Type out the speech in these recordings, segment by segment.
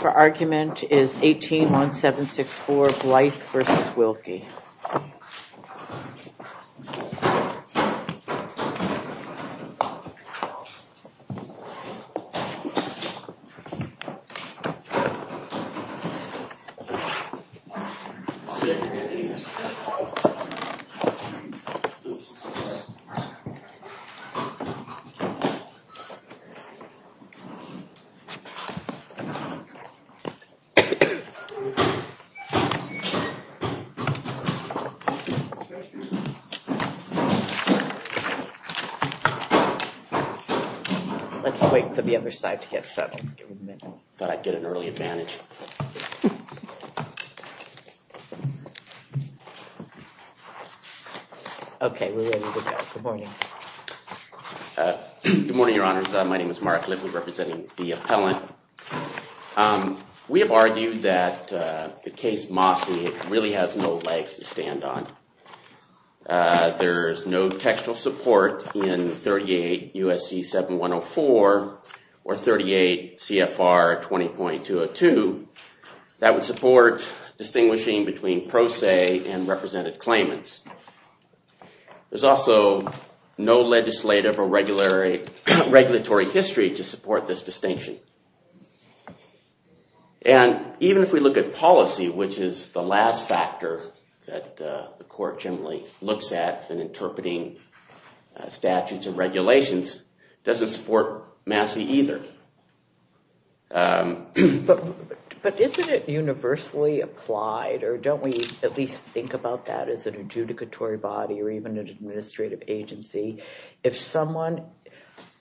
The argument is 18-1764 Blythe v. Wilkie Let's wait for the other side to get settled. I thought I'd get an early advantage. Okay, we're ready to go. Good morning. Good morning, Your Honors. My name is Mark Lively, representing the appellant. We have argued that the case Mosse really has no legs to stand on. There's no textual support in 38 U.S.C. 7104 or 38 CFR 20.202 that would support distinguishing between pro se and represented claimants. There's also no legislative or regulatory history to support this distinction. And even if we look at policy, which is the last factor that the court generally looks at in interpreting statutes and regulations, it doesn't support Mosse either. But isn't it universally applied, or don't we at least think about that as an adjudicatory body or even an administrative agency? If someone,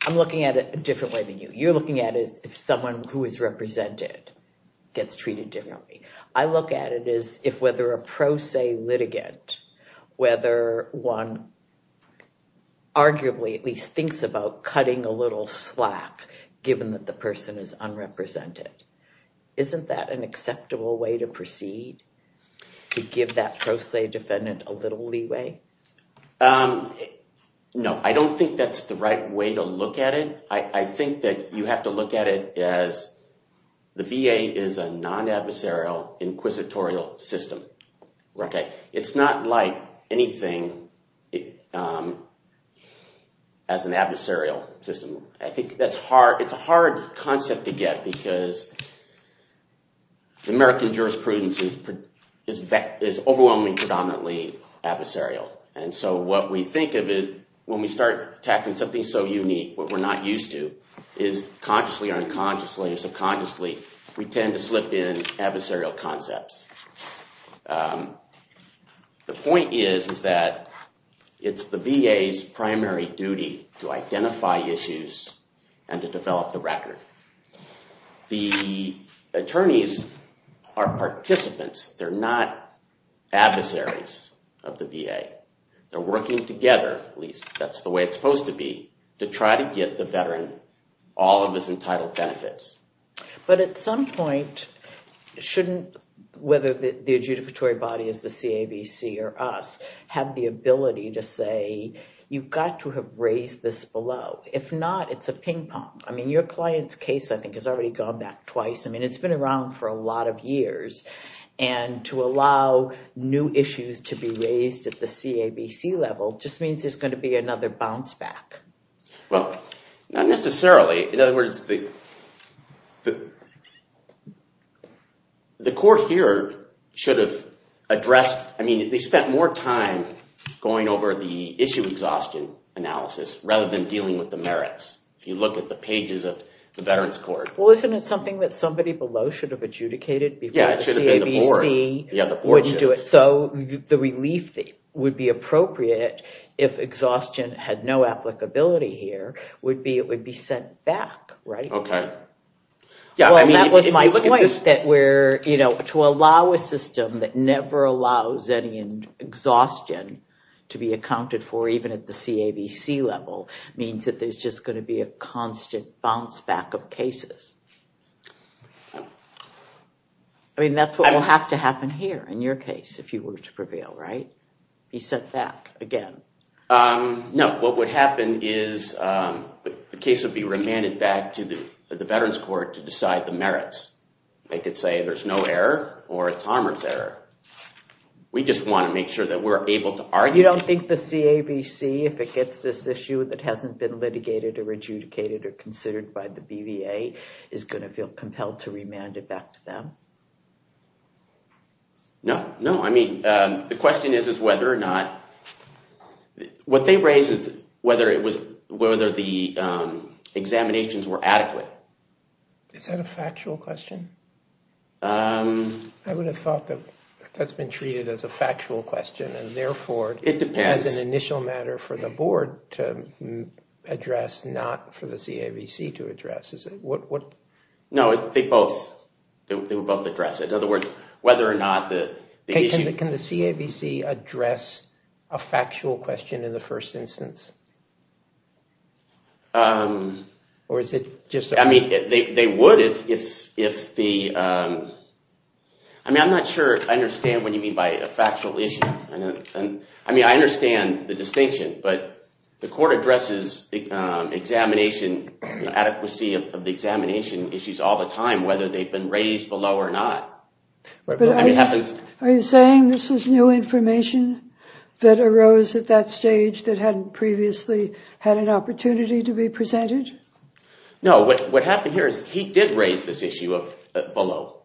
I'm looking at it a different way than you. You're looking at it as if someone who is represented gets treated differently. I look at it as if whether a pro se litigant, whether one arguably at least thinks about cutting a little slack given that the person is unrepresented. Isn't that an acceptable way to proceed to give that pro se defendant a little leeway? No, I don't think that's the right way to look at it. I think that you have to look at it as the VA is a non-adversarial inquisitorial system. It's not like anything as an adversarial system. I think it's a hard concept to get because the American jurisprudence is overwhelmingly predominantly adversarial. And so what we think of it when we start attacking something so unique, what we're not used to, is consciously or unconsciously or subconsciously, we tend to slip in adversarial concepts. The point is that it's the VA's primary duty to identify issues and to develop the record. The attorneys are participants. They're not adversaries of the VA. They're working together, at least that's the way it's supposed to be, to try to get the veteran all of his entitled benefits. But at some point, shouldn't, whether the adjudicatory body is the CABC or us, have the ability to say, you've got to have raised this below. If not, it's a ping-pong. I mean, your client's case, I think, has already gone back twice. I mean, it's been around for a lot of years. And to allow new issues to be raised at the CABC level just means there's going to be another bounce-back. Well, not necessarily. In other words, the court here should have addressed, I mean, they spent more time going over the issue exhaustion analysis rather than dealing with the merits. If you look at the pages of the Veterans Court. Well, isn't it something that somebody below should have adjudicated before the CABC would do it? So the relief would be appropriate if exhaustion had no applicability here, it would be sent back, right? Okay. Well, that was my point, that to allow a system that never allows any exhaustion to be accounted for even at the CABC level means that there's just going to be a constant bounce-back of cases. I mean, that's what will have to happen here in your case if you were to prevail, right? He said that again. No, what would happen is the case would be remanded back to the Veterans Court to decide the merits. They could say there's no error or it's harmer's error. We just want to make sure that we're able to argue. You don't think the CABC, if it gets this issue that hasn't been litigated or adjudicated or considered by the BVA, is going to feel compelled to remand it back to them? No, no. I mean, the question is whether or not... What they raise is whether the examinations were adequate. Is that a factual question? I would have thought that that's been treated as a factual question and therefore... It depends. As an initial matter for the board to address, not for the CABC to address, is it? No, they both address it. In other words, whether or not the issue... Can the CABC address a factual question in the first instance? Or is it just... I mean, they would if the... I mean, I'm not sure I understand what you mean by a factual issue. I mean, I understand the distinction, but the court addresses examination, the adequacy of the examination issues all the time, whether they've been raised below or not. Are you saying this was new information that arose at that stage that hadn't previously had an opportunity to be presented? No, what happened here is he did raise this issue below,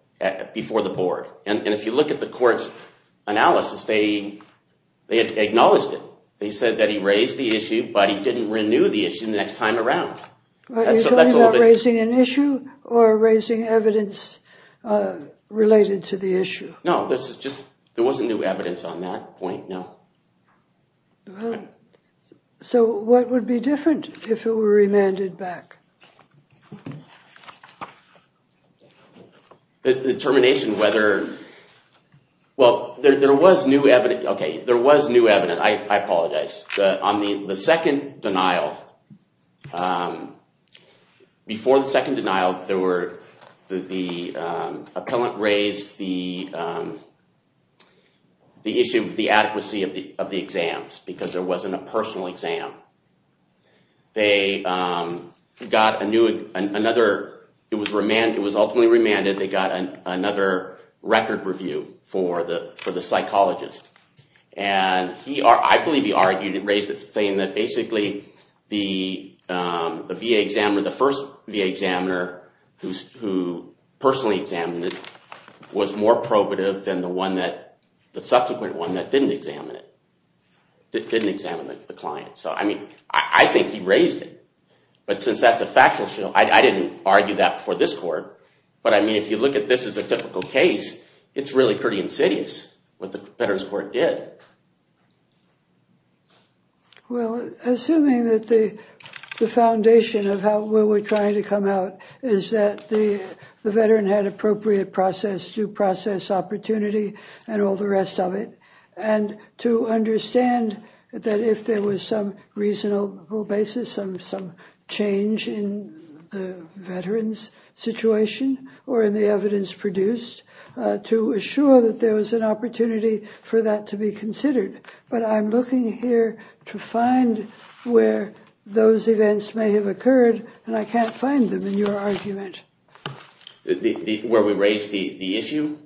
before the board. And if you look at the court's analysis, they acknowledged it. They said that he raised the issue, but he didn't renew the issue the next time around. Are you talking about raising an issue or raising evidence related to the issue? No, this is just... There wasn't new evidence on that point, no. So what would be different if it were remanded back? Determination, whether... Well, there was new evidence. Okay, there was new evidence, I apologize. On the second denial, before the second denial, there were... The appellant raised the issue of the adequacy of the exams because there wasn't a personal exam. They got another... It was ultimately remanded. They got another record review for the psychologist. And I believe he raised it saying that basically the VA examiner, the first VA examiner who personally examined it, was more probative than the subsequent one that didn't examine it, that didn't examine the client. I think he raised it. But since that's a factual issue, I didn't argue that for this court. But if you look at this as a typical case, it's really pretty insidious what the Veterans Court did. Well, assuming that the foundation of where we're trying to come out is that the veteran had appropriate process, due process opportunity, and all the rest of it. And to understand that if there was some reasonable basis, some change in the veterans' situation or in the evidence produced, to assure that there was an opportunity for that to be considered. But I'm looking here to find where those events may have occurred. And I can't find them in your argument. Where we raised the issue?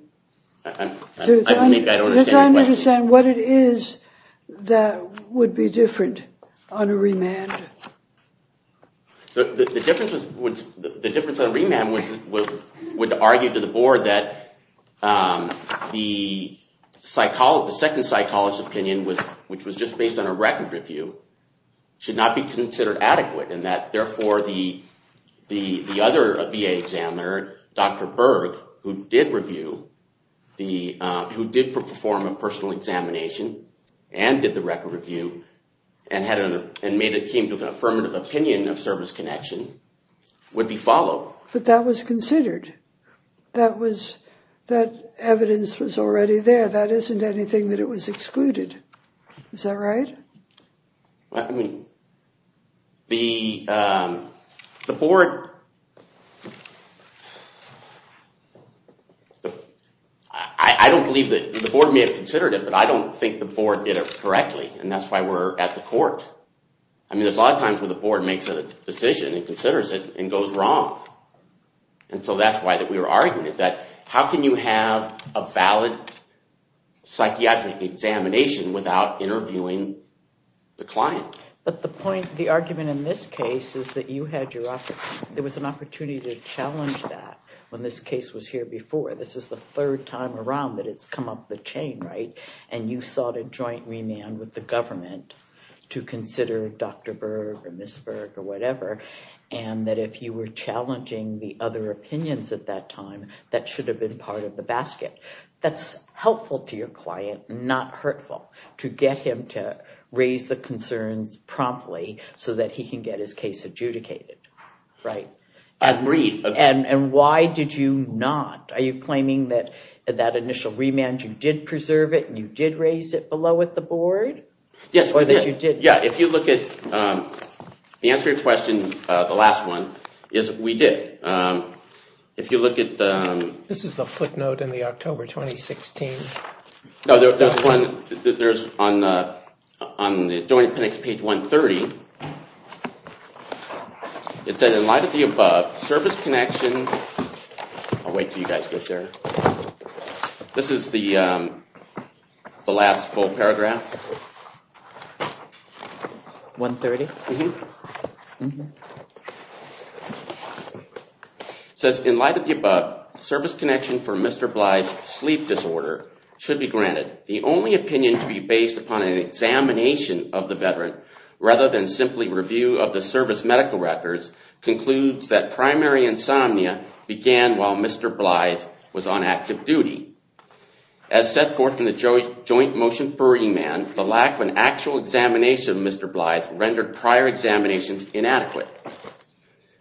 I don't understand your question. I'm trying to understand what it is that would be different on a remand. The difference on a remand would argue to the board that the second psychologist's opinion, which was just based on a record review, should not be considered adequate. And that, therefore, the other VA examiner, Dr. Berg, who did perform a personal examination, and did the record review, and made it seem to have an affirmative opinion of service connection, would be followed. But that was considered. That evidence was already there. That isn't anything that it was excluded. Is that right? I mean, the board, I don't believe that the board may have considered it. But I don't think the board did it correctly. And that's why we're at the court. I mean, there's a lot of times when the board makes a decision and considers it and goes wrong. And so that's why we were arguing it, that how can you have a valid psychiatric examination without interviewing the client? But the point, the argument in this case, is that you had your opportunity. There was an opportunity to challenge that when this case was here before. This is the third time around that it's come up the chain, right? And you sought a joint remand with the government to consider Dr. Berg, or Ms. Berg, or whatever. And that if you were challenging the other opinions at that time, that should have been part of the basket. That's helpful to your client, not hurtful, to get him to raise the concerns promptly so that he can get his case adjudicated, right? Agreed. And why did you not? Are you claiming that that initial remand, you did preserve it, and you did raise it below with the board? Yes, we did. Yeah, if you look at the answer to your question, the last one, is we did. If you look at the- This is the footnote in the October 2016. No, there's one on the joint pinned to page 130. It said, in light of the above, service connection. I'll wait till you guys get there. This is the last full paragraph. 130? Says, in light of the above, service connection for Mr. Blythe's sleep disorder should be granted. The only opinion to be based upon an examination of the veteran, rather than simply review of the service medical records, concludes that primary insomnia began while Mr. Blythe was on active duty. As set forth in the joint motion for remand, the lack of an actual examination of Mr. Blythe rendered prior examinations inadequate.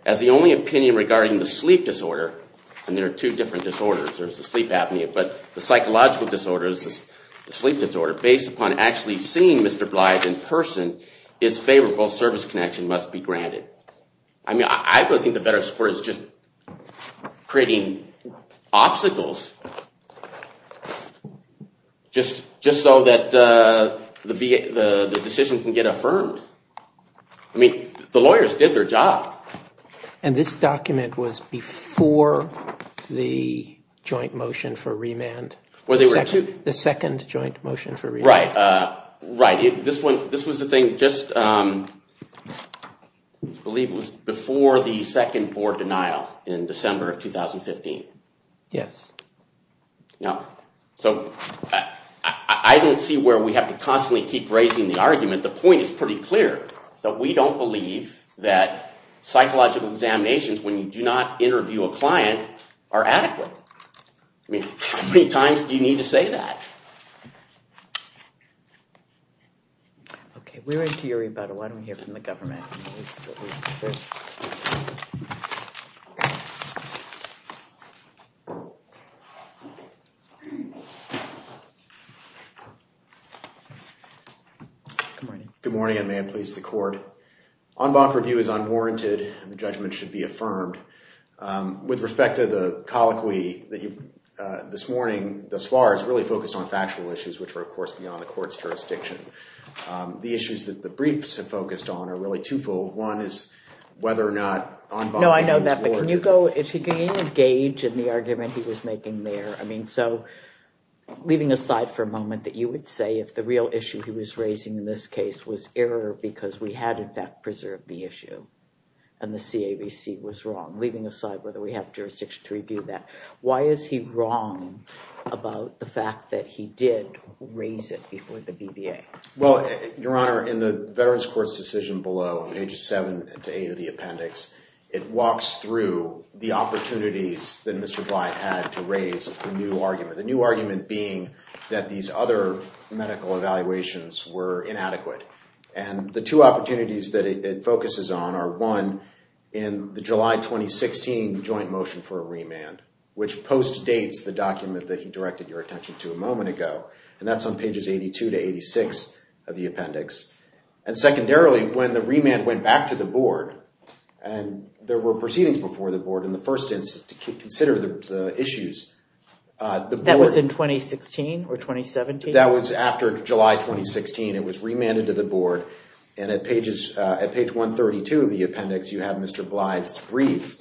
As the only opinion regarding the sleep disorder, and there are two different disorders, there's the sleep apnea, but the psychological disorder is the sleep disorder, based upon actually seeing Mr. Blythe in person is favorable, service connection must be granted. I mean, I would think the veteran's support is just creating obstacles, just so that the decision can get affirmed. I mean, the lawyers did their job. And this document was before the joint motion for remand? Well, they were too. The second joint motion for remand? Right. Right. This was the thing just, I believe, was before the second board denial in December of 2015. Yes. Now, so I don't see where we have to constantly keep raising the argument. The point is pretty clear, that we don't believe that psychological examinations, when you do not interview a client, are adequate. I mean, how many times do you need to say that? OK. We're into your rebuttal. Why don't we hear from the government? Mr. Blythe, sir. Good morning. Good morning, and may it please the court. En bac review is unwarranted, and the judgment should be affirmed. With respect to the colloquy that you, this morning, thus far, is really focused on factual issues, which are, of course, beyond the court's jurisdiction. The issues that the briefs have focused on are really twofold. One is whether or not en banc review is warranted. No, I know that. But can you go, if you can engage in the argument he was making there. I mean, so leaving aside for a moment, that you would say if the real issue he was raising in this case was error, because we had, in fact, preserved the issue, and the CAVC was wrong. Leaving aside whether we have jurisdiction to review that. Why is he wrong about the fact that he did raise it before the BBA? Well, Your Honor, in the Veterans Court's decision below, on pages 7 to 8 of the appendix, it walks through the opportunities that Mr. Blythe had to raise the new argument. The new argument being that these other medical evaluations were inadequate. And the two opportunities that it focuses on are one, in the July 2016 joint motion for a remand, which post-dates the document that he directed your attention to a moment ago. And that's on pages 82 to 86 of the appendix. And secondarily, when the remand went back to the board, and there were proceedings before the board in the first instance to consider the issues, the board- That was in 2016 or 2017? That was after July 2016. It was remanded to the board. And at page 132 of the appendix, you have Mr. Blythe's brief,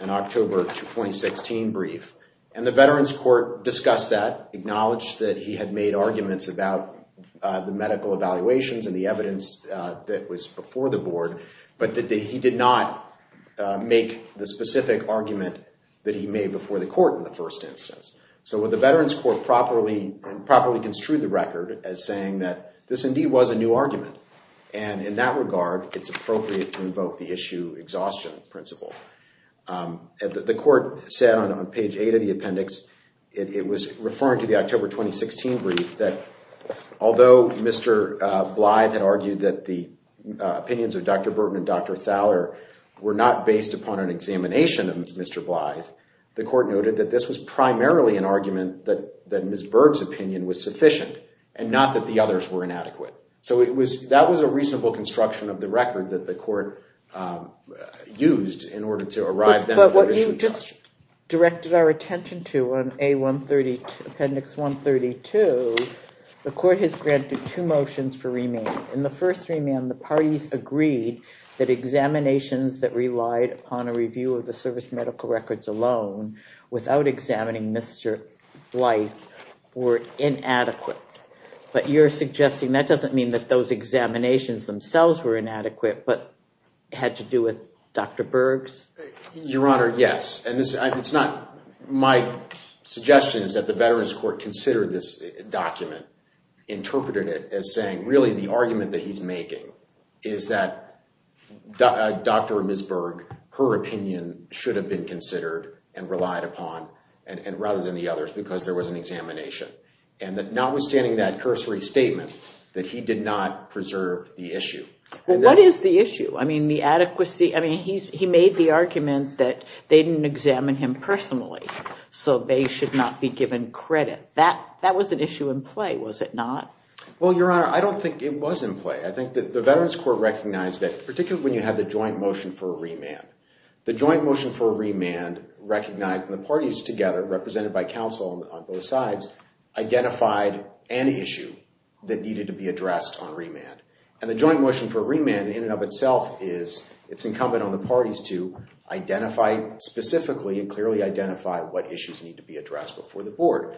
an October 2016 brief. And the Veterans Court discussed that, acknowledged that he had made arguments about the medical evaluations and the evidence that was before the board, but that he did not make the specific argument that he made before the court in the first instance. So would the Veterans Court properly construe the record as saying that this indeed was a new argument? And in that regard, it's appropriate to invoke the issue exhaustion principle. And the court said on page eight of the appendix, it was referring to the October 2016 brief that, although Mr. Blythe had argued that the opinions of Dr. Burton and Dr. Thaler were not based upon an examination of Mr. Blythe, the court noted that this was primarily an argument that Ms. Berg's opinion was sufficient. And not that the others were inadequate. So that was a reasonable construction of the record that the court used in order to arrive at the issue of exhaustion. But what you just directed our attention to on appendix 132, the court has granted two motions for remand. In the first remand, the parties agreed that examinations that relied upon a review of the service medical records alone without examining Mr. Blythe were inadequate. But you're suggesting that doesn't mean that those examinations themselves were inadequate, but had to do with Dr. Berg's? Your Honor, yes. And it's not my suggestion is that the Veterans Court considered this document, interpreted it as saying, really, the argument that he's making is that Dr. or Ms. Berg, her opinion should have been considered and relied upon rather than the others because there was an examination. And that notwithstanding that cursory statement, that he did not preserve the issue. Well, what is the issue? I mean, the adequacy. I mean, he made the argument that they didn't examine him personally. So they should not be given credit. That was an issue in play, was it not? Well, Your Honor, I don't think it was in play. I think that the Veterans Court recognized that, particularly when you had the joint motion for a remand. The joint motion for a remand recognized the parties together, represented by counsel on both sides, identified an issue that needed to be addressed on remand. And the joint motion for a remand, in and of itself, is it's incumbent on the parties to identify specifically and clearly identify what issues need to be addressed before the board.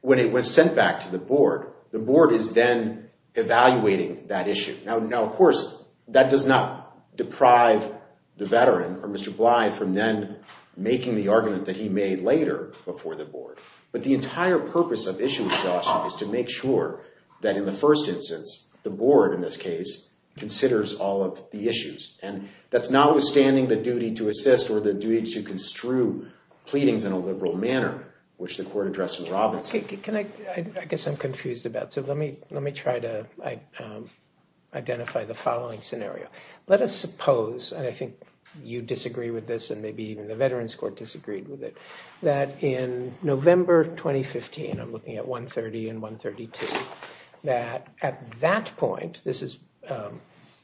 When it was sent back to the board, the board is then evaluating that issue. Now, of course, that does not deprive the veteran, or Mr. Bly, from then making the argument that he made later before the board. But the entire purpose of issue exhaustion is to make sure that, in the first instance, the board, in this case, considers all of the issues. And that's notwithstanding the duty to assist or the duty to construe pleadings in a liberal manner, which the court addressed in Robinson. I guess I'm confused about it. Let me try to identify the following scenario. Let us suppose, and I think you disagree with this, and maybe even the Veterans Court disagreed with it, that in November 2015, I'm looking at 130 and 132, that at that point, this is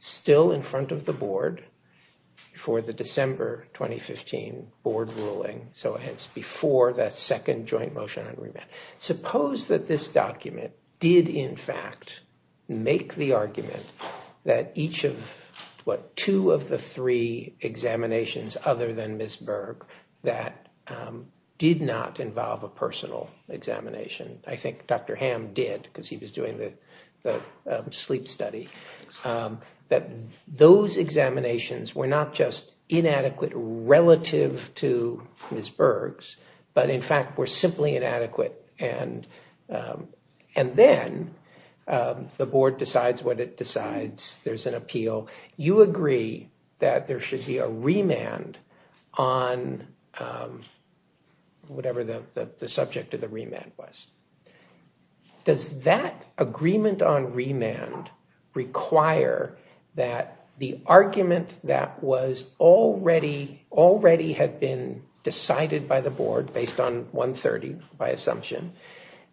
still in front of the board for the December 2015 board ruling, so it's before that second joint motion on remand. Suppose that this document did, in fact, make the argument that each of, what, two of the three examinations other than Ms. Berg that did not involve a personal examination, I think Dr. Ham did, because he was doing the sleep study, that those examinations were not just inadequate relative to Ms. Berg, and then the board decides what it decides. There's an appeal. You agree that there should be a remand on whatever the subject of the remand was. Does that agreement on remand require that the argument that was already had been decided by the board based on 130, by assumption,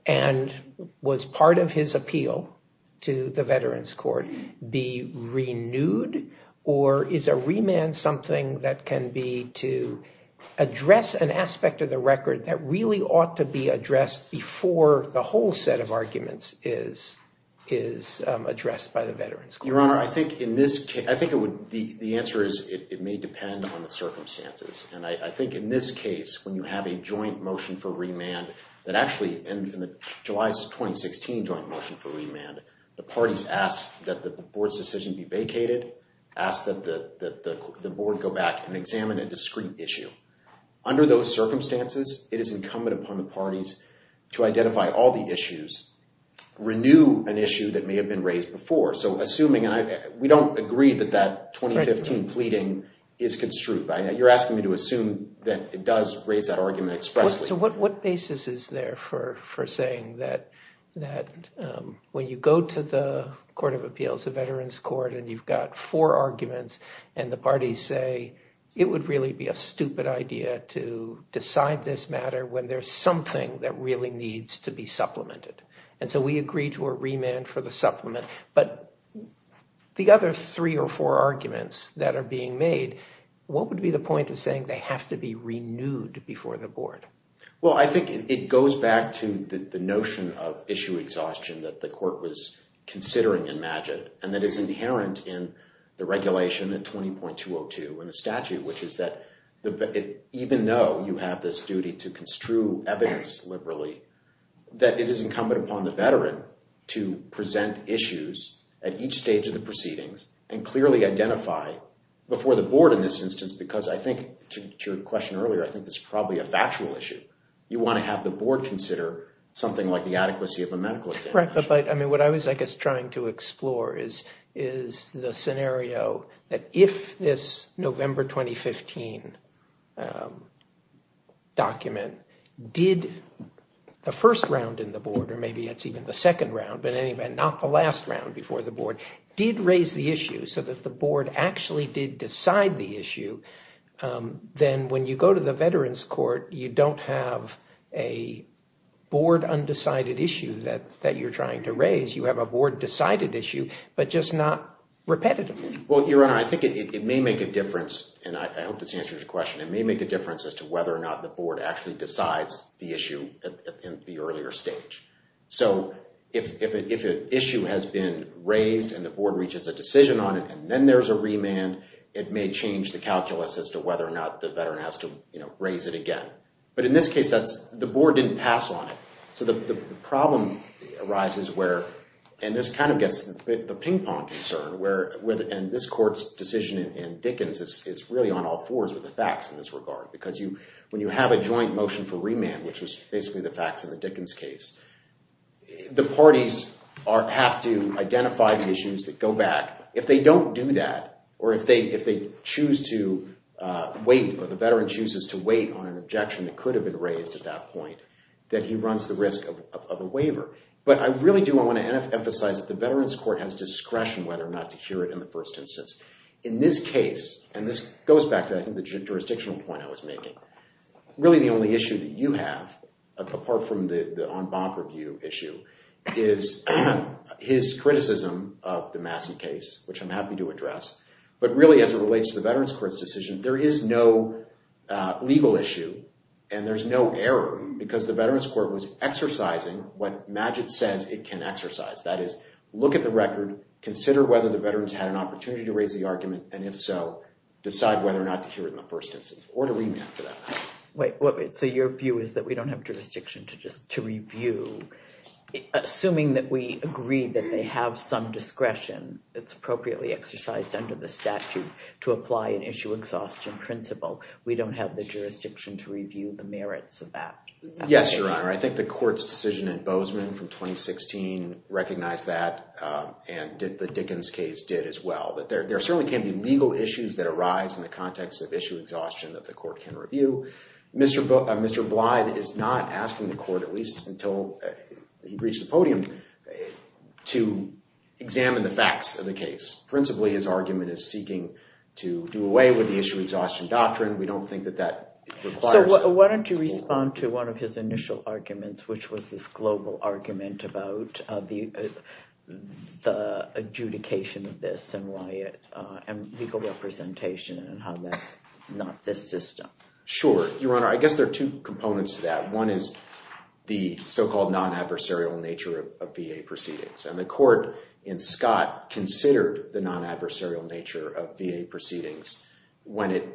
and was part of his appeal to the Veterans Court be renewed, or is a remand something that can be to address an aspect of the record that really ought to be addressed before the whole set of arguments is addressed by the Veterans Court? Your Honor, I think the answer is it may depend on the circumstances. And I think in this case, when you have a joint motion for remand, that actually in July 2016 joint motion for remand, the parties asked that the board's decision be vacated, asked that the board go back and examine a discrete issue. Under those circumstances, it is incumbent upon the parties to identify all the issues, renew an issue that may have been raised before. So assuming, and we don't agree that that 2015 pleading is construed. You're asking me to assume that it does raise that argument expressly. So what basis is there for saying that when you go to the Court of Appeals, the Veterans Court, and you've got four arguments, and the parties say it would really be a stupid idea to decide this matter when there's something that really needs to be supplemented. And so we agree to a remand for the supplement. But the other three or four arguments that are being made, what would be the point of saying they have to be renewed before the board? Well, I think it goes back to the notion of issue exhaustion that the court was considering in MAGIT, and that is inherent in the regulation at 20.202 in the statute, which is that even though you have this duty to construe evidence liberally, that it is incumbent upon the veteran to present issues at each stage of the proceedings and clearly identify before the board in this instance, because I think to your question earlier, I think this is probably a factual issue. You want to have the board consider something like the adequacy of a medical examination. Correct, but I mean, what I was, I guess, trying to explore is the scenario that if this November 2015 document did the first round in the board, or maybe it's even the second round, but in any event, not the last round before the board, did raise the issue so that the board actually did decide the issue. Then when you go to the veterans court, you don't have a board undecided issue that you're trying to raise. You have a board decided issue, but just not repetitive. Well, Your Honor, I think it may make a difference, and I hope this answers your question. It may make a difference as to whether or not the board actually decides the issue in the earlier stage. So, if an issue has been raised and the board reaches a decision on it, and then there's a remand, it may change the calculus as to whether or not the veteran has to raise it again. But in this case, the board didn't pass on it. So, the problem arises where, and this kind of gets the ping pong concern, and this court's decision in Dickens is really on all fours with the facts in this regard. Because when you have a joint motion for remand, which was basically the facts in the Dickens case, the parties have to identify the issues that go back. If they don't do that, or if they choose to wait, or the veteran chooses to wait on an objection that could have been raised at that point, that he runs the risk of a waiver. But I really do want to emphasize that the Veterans Court has discretion whether or not to hear it in the first instance. In this case, and this goes back to, I think, the jurisdictional point I was making, really the only issue that you have, apart from the en banc review issue, is his criticism of the Masson case, which I'm happy to address. But really, as it relates to the Veterans Court's decision, there is no legal issue and there's no error because the Veterans Court was exercising what Magid says it can exercise. That is, look at the record, consider whether the veterans had an opportunity to raise the argument, and if so, decide whether or not to hear it in the first instance or to remand for that. Wait, so your view is that we don't have jurisdiction to just to review, assuming that we agree that they have some discretion that's appropriately exercised under the statute to apply an issue exhaustion principle. We don't have the jurisdiction to review the merits of that? Yes, Your Honor. I think the court's decision in Bozeman from 2016 recognized that, and the Dickens case did as well. There certainly can be legal issues that arise in the context of issue exhaustion that the court can review. Mr. Blythe is not asking the court, at least until he reached the podium, to examine the facts of the case. Principally, his argument is seeking to do away with the issue exhaustion doctrine. We don't think that that requires it. Why don't you respond to one of his initial arguments, which was this global argument about the adjudication of this and legal representation and how that's not this system. Sure, Your Honor. I guess there are two components to that. One is the so-called non-adversarial nature of VA proceedings, and the court in Scott considered the non-adversarial nature of VA proceedings when it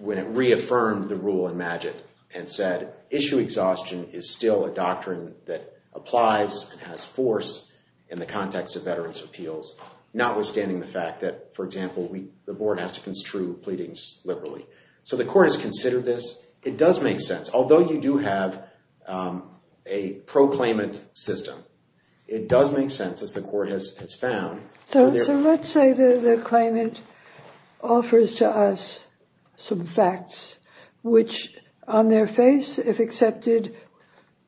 reaffirmed the rule in Magid and said issue exhaustion is still a doctrine that applies and has force in the context of veterans' appeals, notwithstanding the fact that, for example, the board has to construe pleadings liberally. So the court has considered this. It does make sense, although you do have a proclaimant system. It does make sense, as the court has found. So let's say the claimant offers to us some facts, which on their face, if accepted,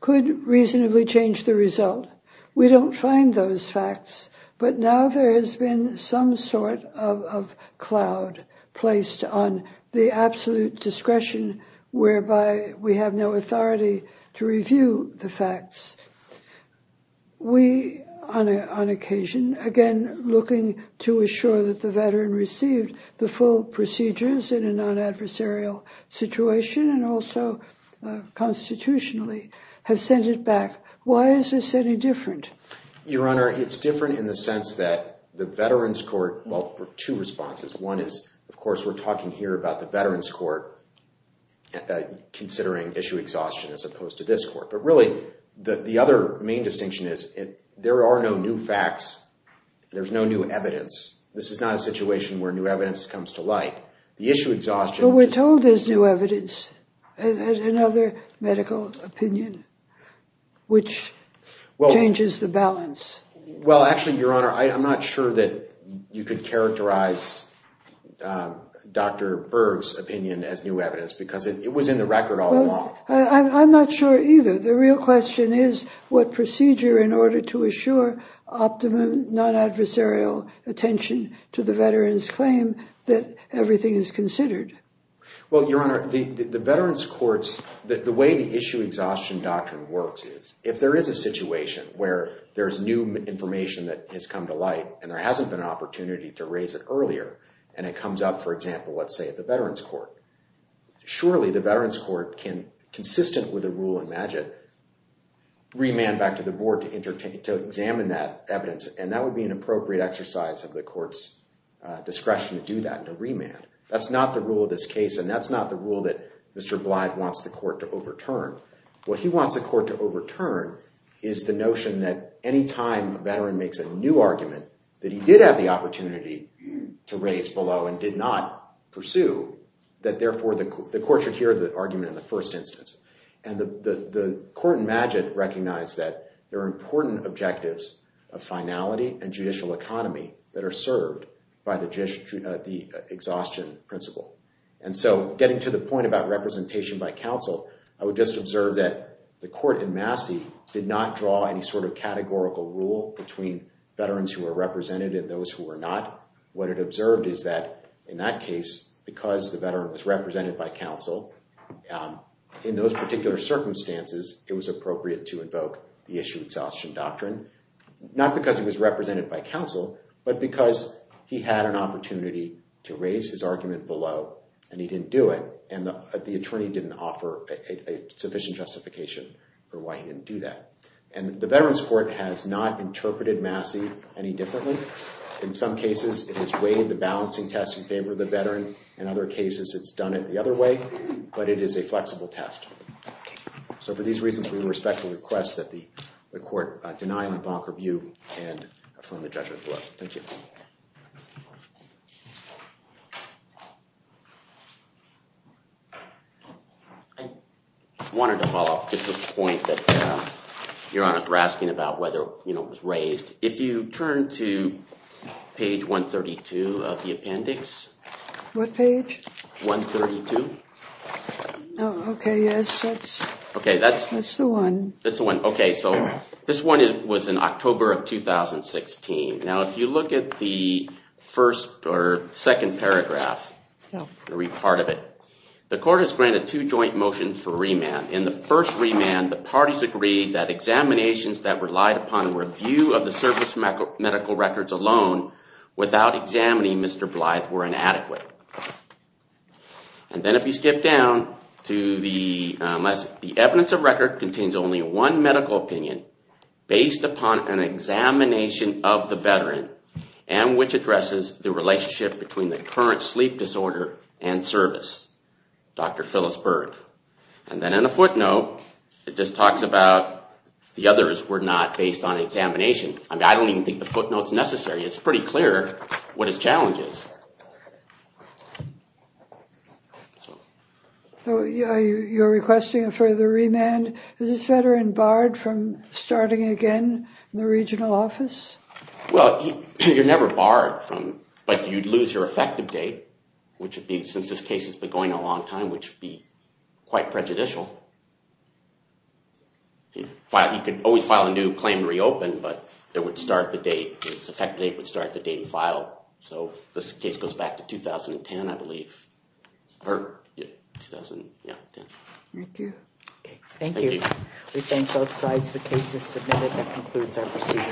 could reasonably change the result. We don't find those facts, but now there has been some sort of cloud placed on the absolute discretion, whereby we have no authority to review the facts. We, on occasion, again looking to assure that the veteran received the full procedures in a non-adversarial situation and also constitutionally, have sent it back. Why is this any different? Your Honor, it's different in the sense that the veterans' court, well, two responses. One is, of course, we're talking here about the veterans' court considering issue exhaustion as opposed to this court. But really, the other main distinction is, there are no new facts. There's no new evidence. This is not a situation where new evidence comes to light. The issue exhaustion— But we're told there's new evidence, another medical opinion, which changes the balance. Well, actually, Your Honor, I'm not sure that you could characterize Dr. Berg's opinion as new evidence because it was in the record all along. I'm not sure either. The real question is what procedure in order to assure optimum non-adversarial attention to the veteran's claim that everything is considered. Well, Your Honor, the veterans' courts, the way the issue exhaustion doctrine works is, if there is a situation where there's new information that has come to light and there hasn't been an opportunity to raise it earlier and it comes up, for example, let's say at the veterans' court. Surely, the veterans' court can, consistent with the rule in MAGIT, remand back to the board to examine that evidence. And that would be an appropriate exercise of the court's discretion to do that, to remand. That's not the rule of this case. And that's not the rule that Mr. Blythe wants the court to overturn. What he wants the court to overturn is the notion that anytime a veteran makes a new argument that he did have the opportunity to raise below and did not pursue, that therefore the court should hear the argument in the first instance. And the court in MAGIT recognized that there are important objectives of finality and judicial economy that are served by the exhaustion principle. And so, getting to the point about representation by counsel, I would just observe that the court in Massey did not draw any sort of categorical rule between veterans who were represented and those who were not. What it observed is that in that case, because the veteran was represented by counsel, in those particular circumstances, it was appropriate to invoke the issue of exhaustion doctrine. Not because he was represented by counsel, but because he had an opportunity to raise his argument below and he didn't do it. And the attorney didn't offer a sufficient justification for why he didn't do that. And the Veterans Court has not interpreted Massey any differently. In some cases, it has weighed the balancing test in favor of the veteran. In other cases, it's done it the other way. But it is a flexible test. So, for these reasons, we respectfully request that the court deny my bonker view and affirm the judgment below. Thank you. I wanted to follow up just to the point that Your Honor was asking about whether it was raised. If you turn to page 132 of the appendix. What page? 132. Oh, OK. Yes. That's the one. That's the one. OK. So, this one was in October of 2016. Now, if you look at the first or second paragraph. Read part of it. The court has granted two joint motions for remand. In the first remand, the parties agreed that examinations that relied upon a review of the service medical records alone without examining Mr. Blythe were inadequate. And then if you skip down to the evidence of record contains only one medical opinion based upon an examination of the veteran and which addresses the relationship between the current sleep disorder and service. Dr. Phyllis Bird. And then in the footnote, it just talks about the others were not based on examination. I mean, I don't even think the footnote's necessary. It's pretty clear what his challenge is. So, you're requesting a further remand? Is this veteran barred from starting again in the regional office? Well, you're never barred. But you'd lose your effective date, which would be, since this case has been going a long time, which would be quite prejudicial. He could always file a new claim to reopen, but it would start the date. His effective date would start the date he filed. So, this case goes back to 2010, I believe. 2010. Thank you. Thank you. We thank both sides. The case is submitted. That concludes our proceedings.